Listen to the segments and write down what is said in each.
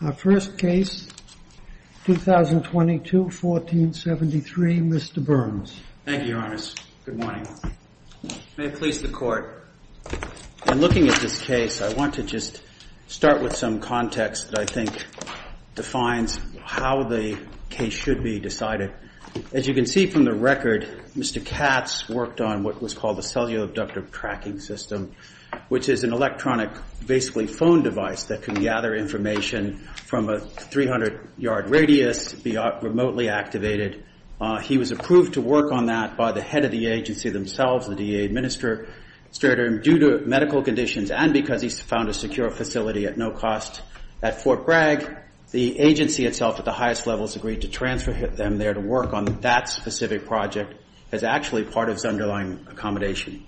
Our first case, 2022-1473, Mr. Burns. Thank you, Your Honor. Good morning. May it please the Court. In looking at this case, I want to just start with some context that I think defines how the case should be decided. As you can see from the record, Mr. Katz worked on what was called the cellular abductor tracking system, which is an electronic basically phone device that can gather information from a 300-yard radius, be remotely activated. He was approved to work on that by the head of the agency themselves, the DEA administrator, and due to medical conditions and because he found a secure facility at no cost at Fort Bragg, the agency itself at the highest levels agreed to transfer them there to work on that specific project as actually part of his underlying accommodation.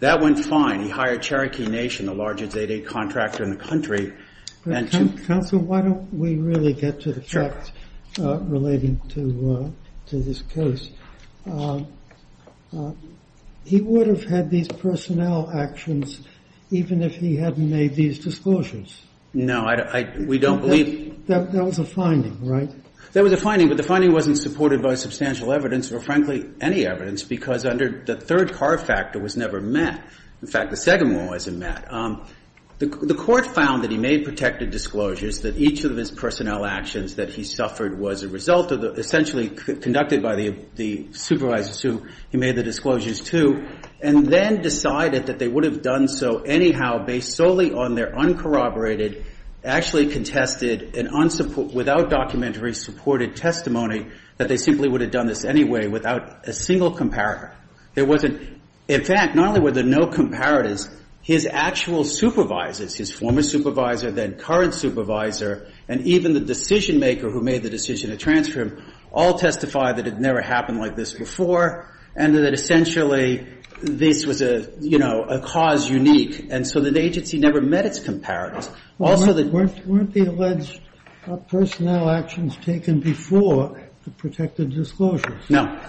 That went fine. He hired Cherokee Nation, the largest 8-8 contractor in the country. And to – Counsel, why don't we really get to the facts relating to this case? He would have had these personnel actions even if he hadn't made these disclosures. No, I – we don't believe – That was a finding, right? That was a finding, but the finding wasn't supported by substantial evidence or, frankly, any evidence because under the third car factor was never met. In fact, the second one wasn't met. The court found that he made protected disclosures, that each of his personnel actions that he suffered was a result of the – essentially conducted by the supervisors who he made the disclosures to and then decided that they would have done so anyhow based solely on their uncorroborated, actually contested and unsupported – without documentary supported testimony that they simply would have done this anyway without a single comparator. There wasn't – in fact, not only were there no comparators, his actual supervisors, his former supervisor, then current supervisor, and even the decisionmaker who made the decision to transfer him all testified that it had never happened like this before and that essentially this was a, you know, a cause unique. And so the agency never met its comparators. Also the – Weren't the alleged personnel actions taken before the protected disclosures? No.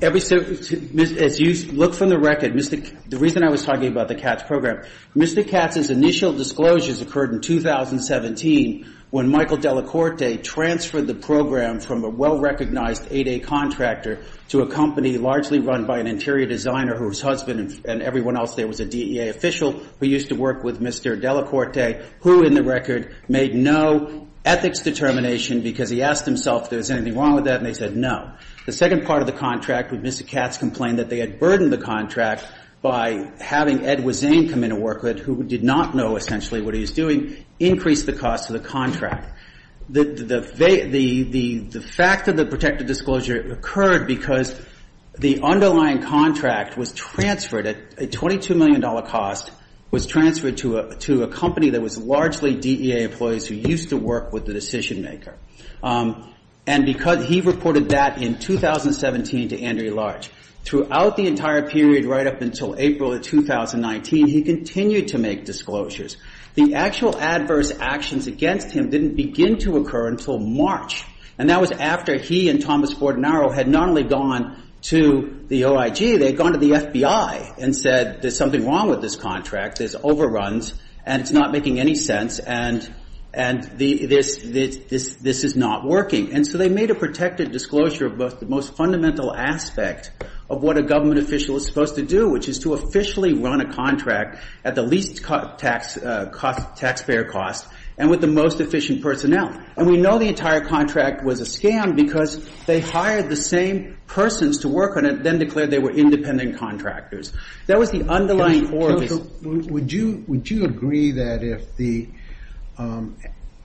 Every – as you look from the record, the reason I was talking about the Katz program, Mr. Katz's initial disclosures occurred in 2017 when Michael Delacorte transferred the program from a well-recognized 8A contractor to a company largely run by an interior designer whose husband and everyone else there was a DEA official who used to work with Mr. Delacorte at 8A who, in the record, made no ethics determination because he asked himself if there was anything wrong with that and they said no. The second part of the contract with Mr. Katz complained that they had burdened the contract by having Edward Zane come into work who did not know essentially what he was doing, increase the cost of the contract. The fact of the protected disclosure occurred because the underlying contract at a $22 million cost was transferred to a company that was largely DEA employees who used to work with the decision-maker. And because he reported that in 2017 to Andrew Larch, throughout the entire period right up until April of 2019, he continued to make disclosures. The actual adverse actions against him didn't begin to occur until March, and that was after he and Thomas Bordenaro had not only gone to the OIG, they had gone to the FBI and said there's something wrong with this contract, there's overruns, and it's not making any sense, and this is not working. And so they made a protected disclosure of both the most fundamental aspect of what a government official is supposed to do, which is to officially run a contract at the least taxpayer cost and with the most efficient personnel. And we know the entire contract was a scam because they hired the same persons to work on it, then declared they were independent contractors. That was the underlying order. Would you agree that if the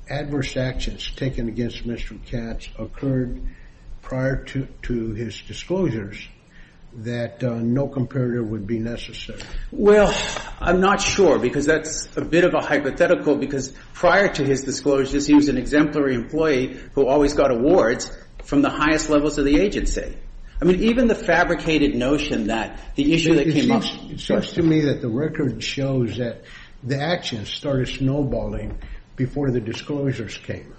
adverse actions taken against Mr. Katz occurred prior to his disclosures that no comparator would be necessary? Well, I'm not sure because that's a bit of a hypothetical because prior to his disclosures, he was an exemplary employee who always got awards from the highest levels of the agency. I mean, even the fabricated notion that the issue that came up... It seems to me that the record shows that the actions started snowballing before the disclosures came.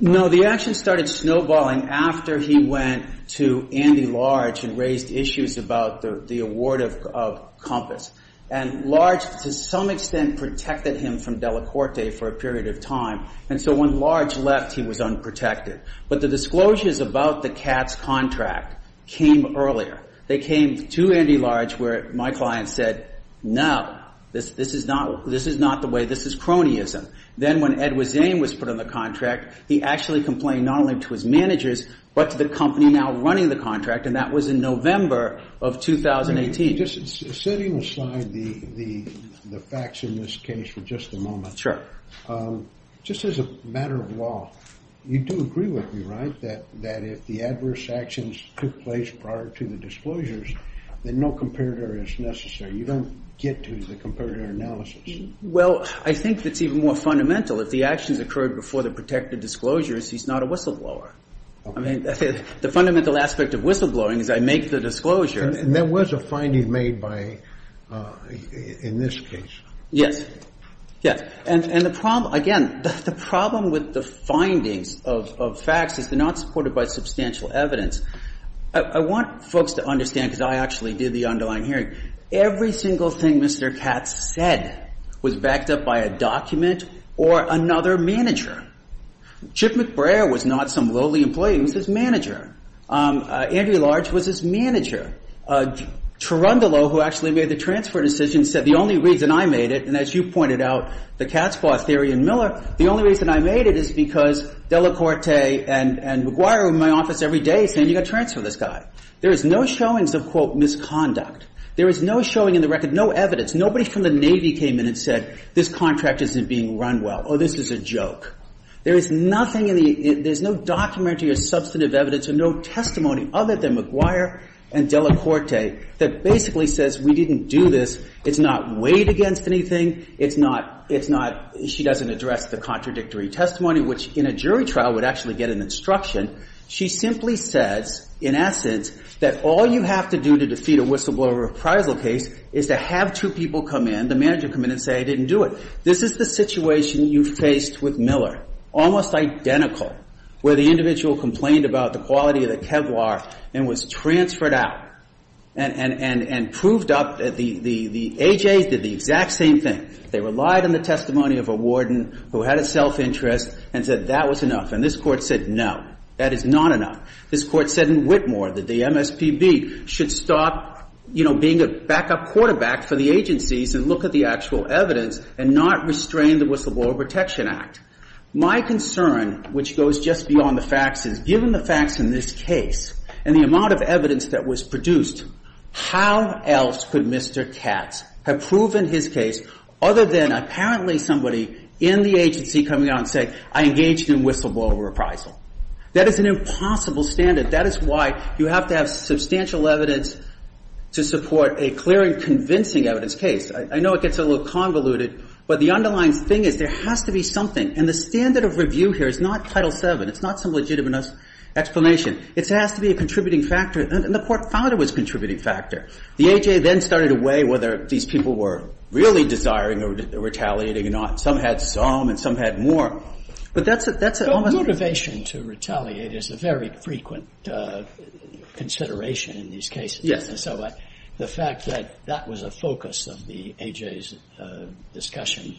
No, the actions started snowballing after he went to Andy Large and raised issues about the award of Compass. And Large, to some extent, protected him from Delacorte for a period of time, and so when Large left, he was unprotected. But the disclosures about the Katz contract came earlier. They came to Andy Large where my client said, no, this is not the way, this is cronyism. Then when Edward Zane was put on the contract, he actually complained not only to his managers, but to the company now running the contract, and that was in November of 2018. Just setting aside the facts in this case for just a moment. Sure. Just as a matter of law, you do agree with me, right, that if the adverse actions took place prior to the disclosures, then no comparator is necessary. You don't get to the comparator analysis. Well, I think that's even more fundamental. If the actions occurred before the protected disclosures, he's not a whistleblower. I mean, the fundamental aspect of whistleblowing is I make the disclosure. And there was a finding made by, in this case. Yes. Yes. And the problem, again, the problem with the findings of facts is they're not supported by substantial evidence. I want folks to understand, because I actually did the underlying hearing, every single thing Mr. Katz said was backed up by a document or another manager. Chip McBrayer was not some lowly employee. He was his manager. Andy Large was his manager. Terundolo, who actually made the transfer decision, said the only reason I made it, and as you pointed out, the Katz-Claw theory in Miller, the only reason I made it is because Delacorte and McGuire were in my office every day saying, you've got to transfer this guy. There is no showings of, quote, misconduct. There is no showing in the record, no evidence. Nobody from the Navy came in and said, this contract isn't being run well. Oh, this is a joke. There is nothing in the ‑‑ there's no documentary or substantive evidence or no testimony other than McGuire and Delacorte that basically says we didn't do this. It's not weighed against anything. It's not ‑‑ it's not ‑‑ she doesn't address the contradictory testimony, which in a jury trial would actually get an instruction. She simply says, in essence, that all you have to do to defeat a whistleblower appraisal case is to have two people come in, the manager come in and say, I didn't do it. This is the situation you faced with Miller, almost identical, where the individual complained about the quality of the Kevlar and was transferred out and proved up, the A.J.s did the exact same thing. They relied on the testimony of a warden who had a self‑interest and said that was enough. And this Court said, no, that is not enough. This Court said in Whitmore that the MSPB should stop, you know, being a backup quarterback for the agencies and look at the actual evidence and not restrain the Whistleblower Protection Act. My concern, which goes just beyond the facts, is given the facts in this case and the amount of evidence that was produced, how else could Mr. Katz have proven his case other than apparently somebody in the agency coming out and saying, I engaged in whistleblower appraisal? That is an impossible standard. That is why you have to have substantial evidence to support a clear and convincing evidence case. I know it gets a little convoluted, but the underlying thing is there has to be something and the standard of review here is not Title VII. It's not some legitimate explanation. It has to be a contributing factor. And the Court found it was a contributing factor. The A.J. then started to weigh whether these people were really desiring or retaliating or not. Some had some and some had more. But that's almost ‑‑ So motivation to retaliate is a very frequent consideration in these cases. Yes. So the fact that that was a focus of the A.J.'s discussion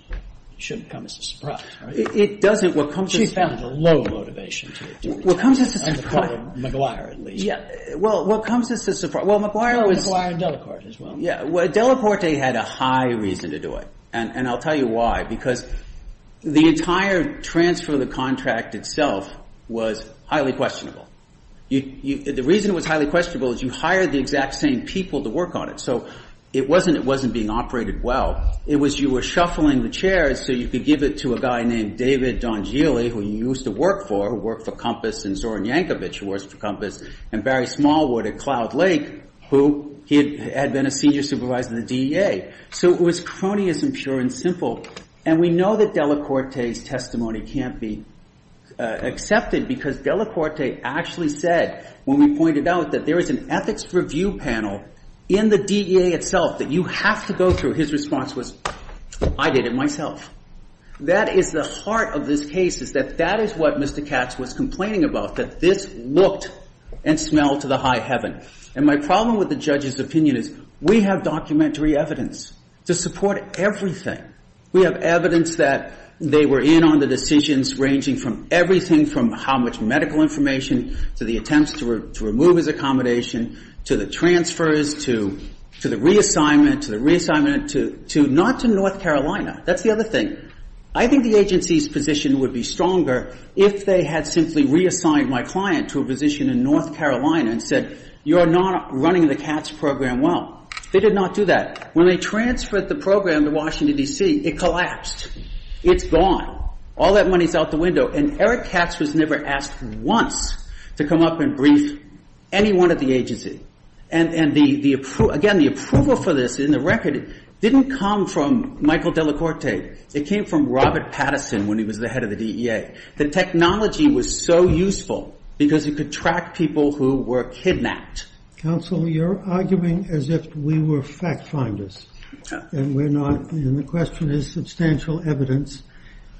shouldn't come as a surprise, right? It doesn't. What comes as a surprise ‑‑ She found a low motivation to do it. What comes as a surprise ‑‑ And to call it McGuire, at least. Yeah. Well, what comes as a surprise ‑‑ Well, McGuire was ‑‑ McGuire and Delacorte as well. Yeah. Well, Delacorte had a high reason to do it. And I'll tell you why. Because the entire transfer of the contract itself was highly questionable. The reason it was highly questionable is you hired the exact same people to work on it. So it wasn't ‑‑ it wasn't being operated well. It was you were shuffling the chairs so you could give it to a guy named David Donjili, who you used to work for, who worked for Compass and Zoran Yankovic, who worked for Compass, and Barry Smallwood at Cloud Lake, who had been a senior supervisor in the DEA. So it was cronyism, pure and simple. And we know that Delacorte's testimony can't be accepted because Delacorte actually said when we pointed out that there is an ethics review panel in the DEA itself that you have to go through, his response was, I did it myself. That is the heart of this case, is that that is what Mr. Katz was complaining about, that this looked and smelled to the high heaven. And my problem with the judge's opinion is we have documentary evidence to support everything. We have evidence that they were in on the decisions ranging from everything from how much medical information to the attempts to remove his accommodation to the transfers to the reassignment, to the reassignment, not to North Carolina. That's the other thing. I think the agency's position would be stronger if they had simply reassigned my client to a position in North Carolina and said, you're not running the Katz program well. They did not do that. When they transferred the program to Washington, D.C., it collapsed. It's gone. All that money is out the window. And again, the approval for this in the record didn't come from Michael Delacorte. It came from Robert Patterson when he was the head of the DEA. The technology was so useful because it could track people who were kidnapped. Counsel, you're arguing as if we were fact finders and the question is substantial evidence.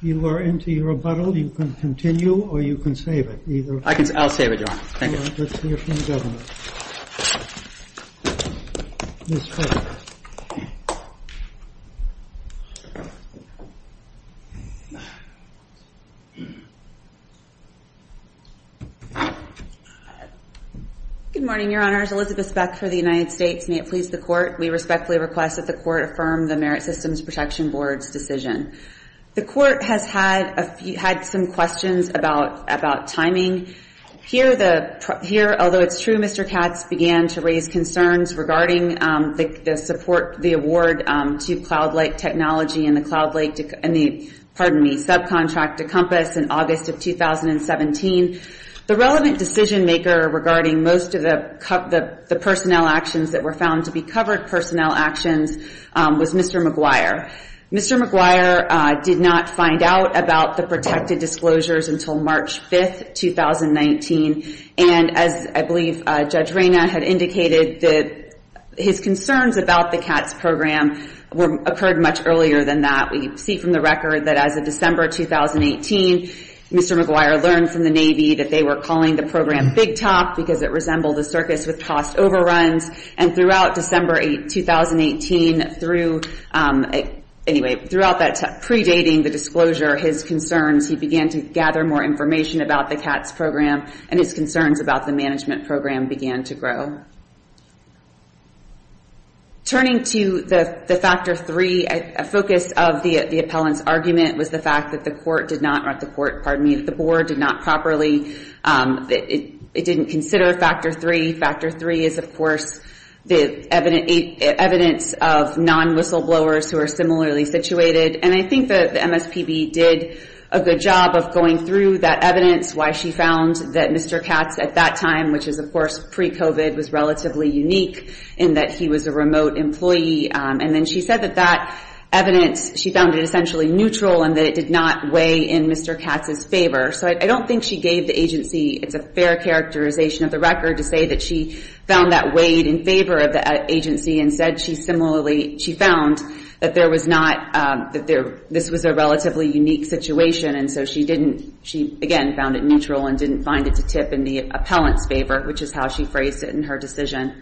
You are into your rebuttal. You can continue or you can save it. I'll save it, Your Honor. Thank you. Thank you, Your Honor. Let's hear from the governor. Ms. Clark. Good morning, Your Honors. Elizabeth Speck for the United States. May it please the Court. We respectfully request that the Court affirm the Merit Systems Protection Board's decision. The Court has had some questions about timing. Here, although it's true, Mr. Katz began to raise concerns regarding the award to CloudLake Technology and the subcontract to Compass in August of 2017. The relevant decision maker regarding most of the personnel actions that were found to be covered personnel actions was Mr. McGuire. Mr. McGuire did not find out about the protected disclosures until March 5, 2019. And as I believe Judge Rayna had indicated, his concerns about the Katz program occurred much earlier than that. We see from the record that as of December 2018, Mr. McGuire learned from the Navy that they were calling the program Big Top because it resembled a circus with tossed overruns. And throughout December 2018, through, anyway, throughout that predating the disclosure, his concerns, he began to gather more information about the Katz program and his concerns about the management program began to grow. Turning to the Factor III, a focus of the appellant's argument was the fact that the Court did not, or the Court, pardon me, the Board did not properly, it didn't consider Factor III. Factor III is, of course, the evidence of non-whistleblowers who are similarly situated. And I think that the MSPB did a good job of going through that evidence, why she found that Mr. Katz at that time, which is, of course, pre-COVID, was relatively unique in that he was a remote employee. And then she said that that evidence, she found it essentially neutral and that it did not weigh in Mr. Katz's favor. So I don't think she gave the agency, it's a fair characterization of the record, to say that she found that weighed in favor of the agency and said she similarly, she found that there was not, that there, this was a relatively unique situation. And so she didn't, she, again, found it neutral and didn't find it to tip in the appellant's favor, which is how she phrased it in her decision.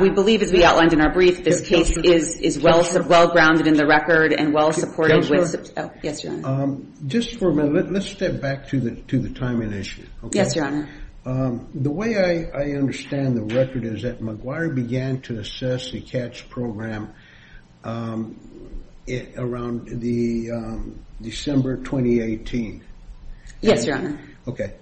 We believe, as we outlined in our brief, this case is well grounded in the record and well supported with. Yes, Your Honor. Just for a minute, let's step back to the timing issue. Yes, Your Honor. The way I understand the record is that McGuire began to assess the Katz program around the December 2018. Yes, Your Honor. Okay.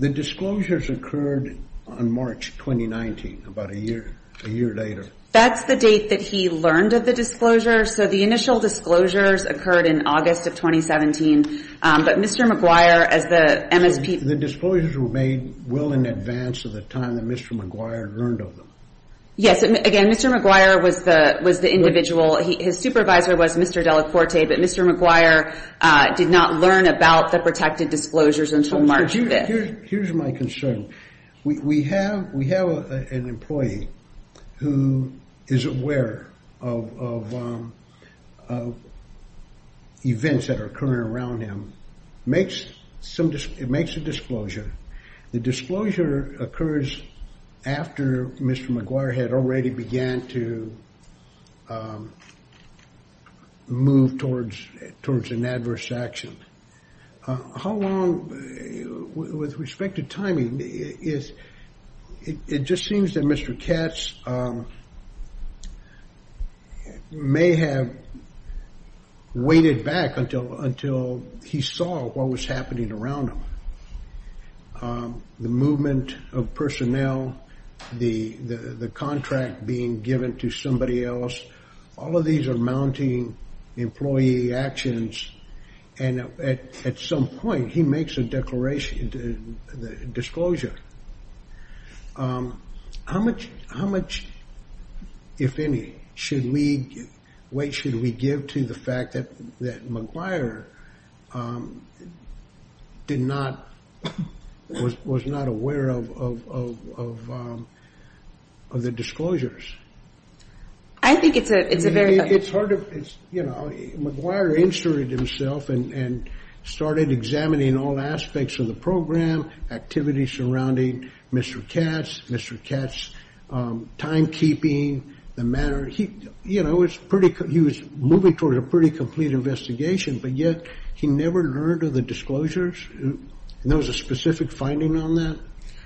The disclosures occurred on March 2019, about a year later. That's the date that he learned of the disclosure. So the initial disclosures occurred in August of 2017. But Mr. McGuire, as the MSP. The disclosures were made well in advance of the time that Mr. McGuire learned of them. Yes. Again, Mr. McGuire was the individual, his supervisor was Mr. Delacorte, but Mr. McGuire did not learn about the protected disclosures until March 5th. Here's my concern. We have an employee who is aware of events that are occurring around him. It makes a disclosure. The disclosure occurs after Mr. McGuire had already began to move towards an adverse action. How long, with respect to timing, it just seems that Mr. Katz may have waited back until he saw what was happening around him. The movement of personnel, the contract being given to somebody else, all of these are mounting employee actions. And at some point, he makes a disclosure. How much, if any, should we give to the fact that McGuire was not aware of the disclosures? I think it's a very... It's hard to... You know, McGuire inserted himself and started examining all aspects of the program, activities surrounding Mr. Katz, Mr. Katz's timekeeping, the manner... You know, he was moving toward a pretty complete investigation, but yet he never learned of the disclosures? And there was a specific finding on that?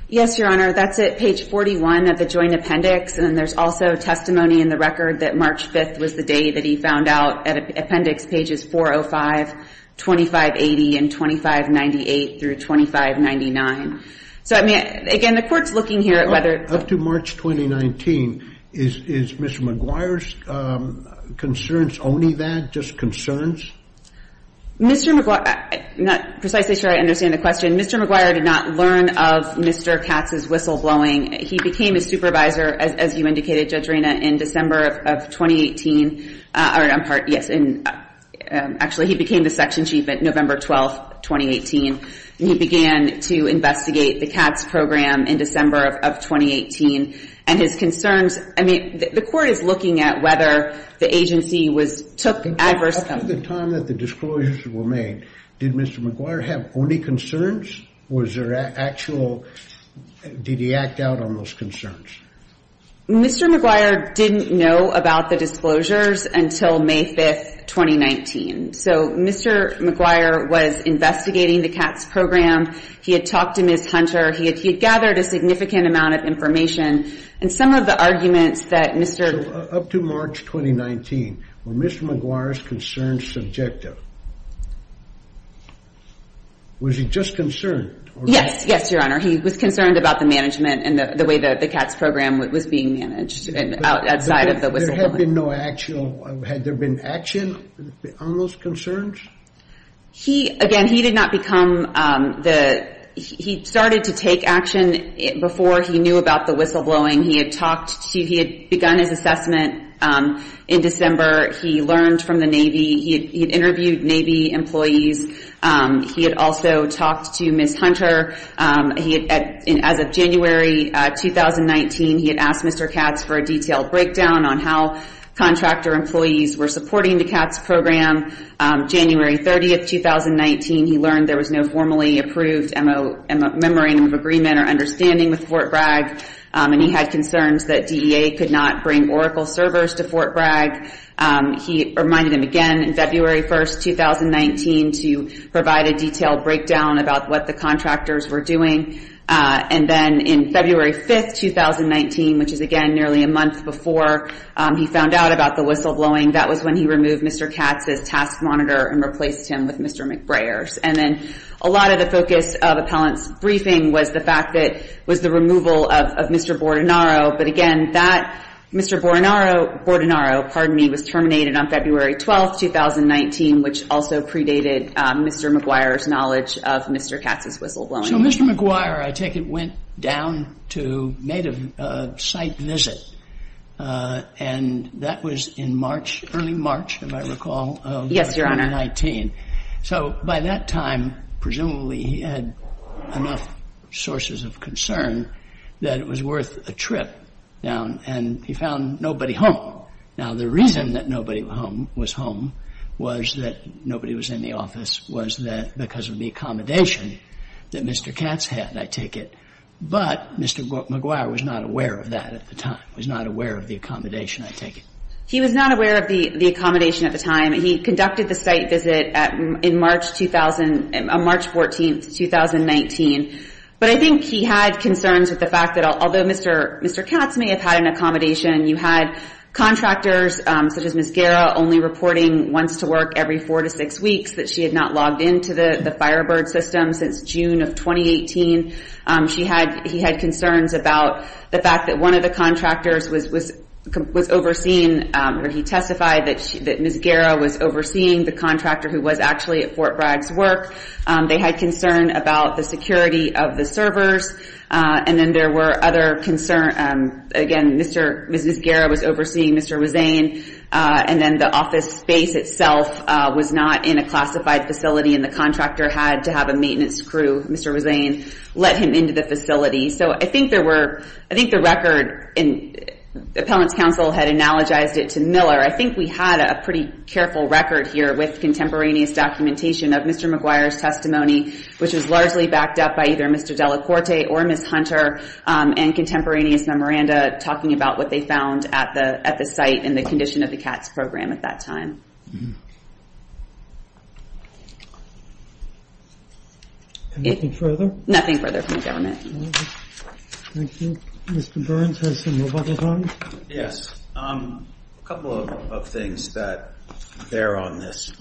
Yes, Your Honor. That's at page 41 of the joint appendix. And then there's also testimony in the record that March 5th was the day that he found out at appendix pages 405, 2580, and 2598 through 2599. So, I mean, again, the Court's looking here at whether... Up to March 2019, is Mr. McGuire's concerns only that, just concerns? Mr. McGuire... I'm not precisely sure I understand the question. Mr. McGuire did not learn of Mr. Katz's whistleblowing. He became a supervisor, as you indicated, Judge Rena, in December of 2018. I'm sorry. Yes. Actually, he became the section chief at November 12th, 2018. He began to investigate the Katz program in December of 2018. And his concerns... I mean, the Court is looking at whether the agency took adverse... Up to the time that the disclosures were made, did Mr. McGuire have only concerns? Was there actual... Did he act out on those concerns? Mr. McGuire didn't know about the disclosures until May 5th, 2019. So, Mr. McGuire was investigating the Katz program. He had talked to Ms. Hunter. He had gathered a significant amount of information. And some of the arguments that Mr... So, up to March 2019, were Mr. McGuire's concerns subjective? Was he just concerned? Yes. Yes, Your Honor. He was concerned about the management and the way that the Katz program was being managed outside of the whistleblowing. There had been no actual... Had there been action on those concerns? He, again, he did not become the... He started to take action before he knew about the whistleblowing. He had talked to... He had begun his assessment in December. He learned from the Navy. He had interviewed Navy employees. He had also talked to Ms. Hunter. As of January 2019, he had asked Mr. Katz for a detailed breakdown on how contractor employees were supporting the Katz program. January 30th, 2019, he learned there was no formally approved memorandum of agreement or understanding with Fort Bragg. And he had concerns that DEA could not bring Oracle servers to Fort Bragg. He reminded him again in February 1st, 2019, to provide a detailed breakdown about what the contractors were doing. And then in February 5th, 2019, which is, again, nearly a month before he found out about the whistleblowing, that was when he removed Mr. Katz's task monitor and replaced him with Mr. McBrayer's. And then a lot of the focus of appellant's briefing was the fact that... Was the removal of Mr. Bordenaro. But, again, that Mr. Bordenaro, pardon me, was terminated on February 12th, 2019, which also predated Mr. McBrayer's knowledge of Mr. Katz's whistleblowing. So Mr. McBrayer, I take it, went down to, made a site visit. And that was in March, early March, if I recall, of 2019. Yes, Your Honor. So by that time, presumably he had enough sources of concern that it was worth a trip down. And he found nobody home. Now, the reason that nobody was home was that nobody was in the office, was because of the accommodation that Mr. Katz had, I take it. But Mr. McBrayer was not aware of that at the time, was not aware of the accommodation, I take it. He was not aware of the accommodation at the time. He conducted the site visit on March 14th, 2019. But I think he had concerns with the fact that, although Mr. Katz may have had an accommodation, you had contractors, such as Ms. Guerra, only reporting once to work every four to six weeks, that she had not logged into the Firebird system since June of 2018. He had concerns about the fact that one of the contractors was overseen, where he testified that Ms. Guerra was overseeing the contractor who was actually at Fort Bragg's work. They had concern about the security of the servers. And then there were other concerns. Again, Ms. Guerra was overseeing Mr. Wazain. And then the office space itself was not in a classified facility, and the contractor had to have a maintenance crew, Mr. Wazain, let him into the facility. So I think there were, I think the record, Appellants Council had analogized it to Miller. I think we had a pretty careful record here with contemporaneous documentation of Mr. McGuire's testimony, which was largely backed up by either Mr. Delacorte or Ms. Hunter, and contemporaneous memoranda talking about what they found at the site and the condition of the Katz program at that time. Anything further? Nothing further from the government. Thank you. Mr. Burns has some more bubble time. Yes. A couple of things that bear on this.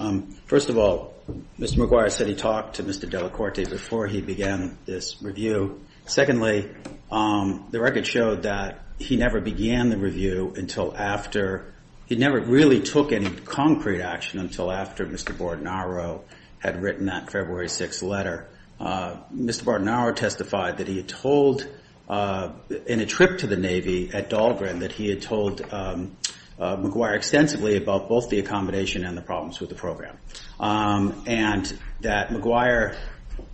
First of all, Mr. McGuire said he talked to Mr. Delacorte before he began this review. Secondly, the record showed that he never began the review until after, he never really took any concrete action until after Mr. Bordenaro had written that February 6th letter. Mr. Bordenaro testified that he had told, in a trip to the Navy at Dahlgren, that he had told McGuire extensively about both the accommodation and the problems with the program, and that McGuire's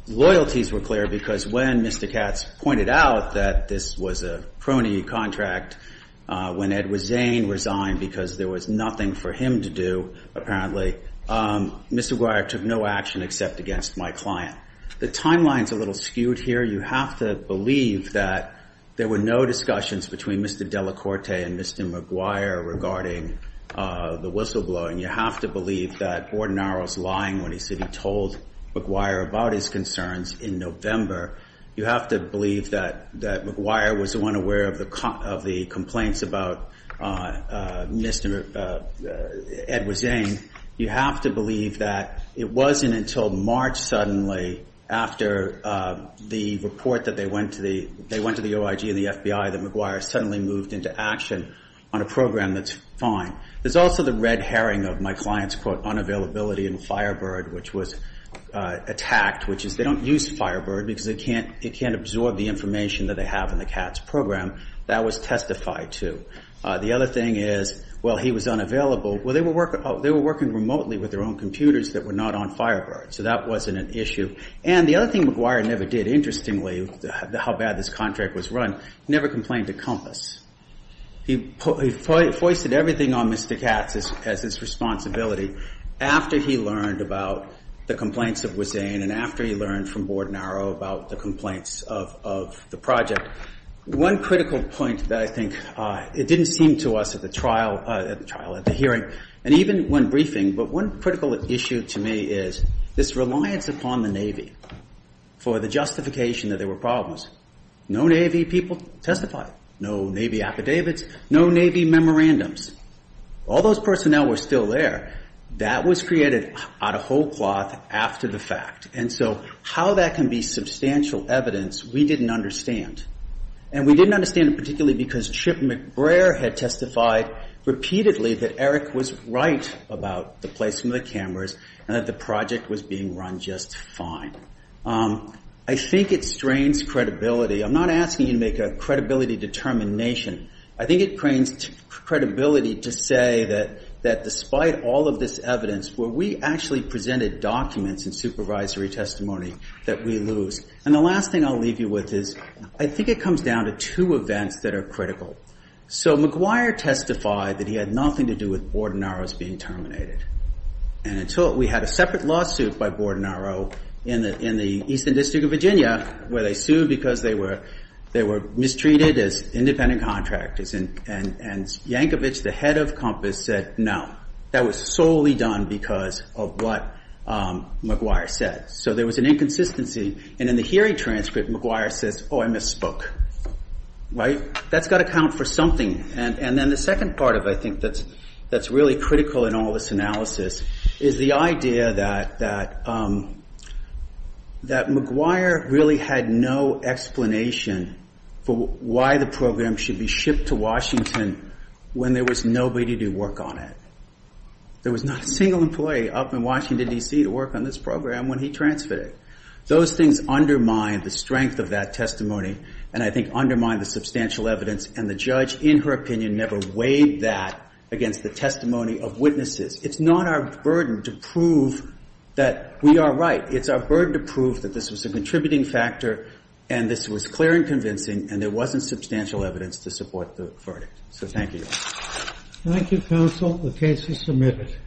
loyalties were clear because when Mr. Katz pointed out that this was a prony contract, when Edward Zane resigned because there was nothing for him to do, apparently, Mr. McGuire took no action except against my client. The timeline is a little skewed here. You have to believe that there were no discussions between Mr. Delacorte and Mr. McGuire regarding the whistleblower, and you have to believe that Bordenaro's lying when he said he told McGuire about his concerns in November. You have to believe that McGuire was unaware of the complaints about Mr. Edward Zane. You have to believe that it wasn't until March, suddenly, after the report that they went to the OIG and the FBI that McGuire suddenly moved into action on a program that's fine. There's also the red herring of my client's, quote, unavailability in Firebird, which was attacked, which is they don't use Firebird because it can't absorb the information that they have in the Katz program. That was testified to. The other thing is, well, he was unavailable. Well, they were working remotely with their own computers that were not on Firebird, so that wasn't an issue. And the other thing McGuire never did, interestingly, how bad this contract was run, never complained to COMPAS. He foisted everything on Mr. Katz as his responsibility after he learned about the complaints of Zane and after he learned from Bordenaro about the complaints of the project. One critical point that I think it didn't seem to us at the trial, at the trial, at the hearing, and even when briefing, but one critical issue to me is this reliance upon the Navy for the justification that there were problems. No Navy people testified. No Navy affidavits. No Navy memorandums. All those personnel were still there. That was created out of whole cloth after the fact. And so how that can be substantial evidence we didn't understand. And we didn't understand it particularly because Chip McBrayer had testified repeatedly that Eric was right about the placement of the cameras and that the project was being run just fine. I think it strains credibility. I'm not asking you to make a credibility determination. I think it strains credibility to say that despite all of this evidence, where we actually presented documents and supervisory testimony, that we lose. And the last thing I'll leave you with is I think it comes down to two events that are critical. So McBrayer testified that he had nothing to do with Bordenaro's being terminated. And until we had a separate lawsuit by Bordenaro in the Eastern District of Virginia where they sued because they were mistreated as independent contractors and Yankovich, the head of COMPASS, said no. That was solely done because of what McBrayer said. So there was an inconsistency. And in the hearing transcript, McBrayer says, oh, I misspoke. Right? That's got to count for something. And then the second part of it I think that's really critical in all this analysis is the idea that McBrayer really had no explanation for why the program should be shipped to Washington when there was nobody to work on it. There was not a single employee up in Washington, D.C. to work on this program when he transferred it. Those things undermine the strength of that testimony and I think undermine the substantial evidence. And the judge, in her opinion, never weighed that against the testimony of witnesses. It's not our burden to prove that we are right. It's our burden to prove that this was a contributing factor and this was clear and convincing and there wasn't substantial evidence to support the verdict. So thank you. Thank you, counsel. The case is submitted.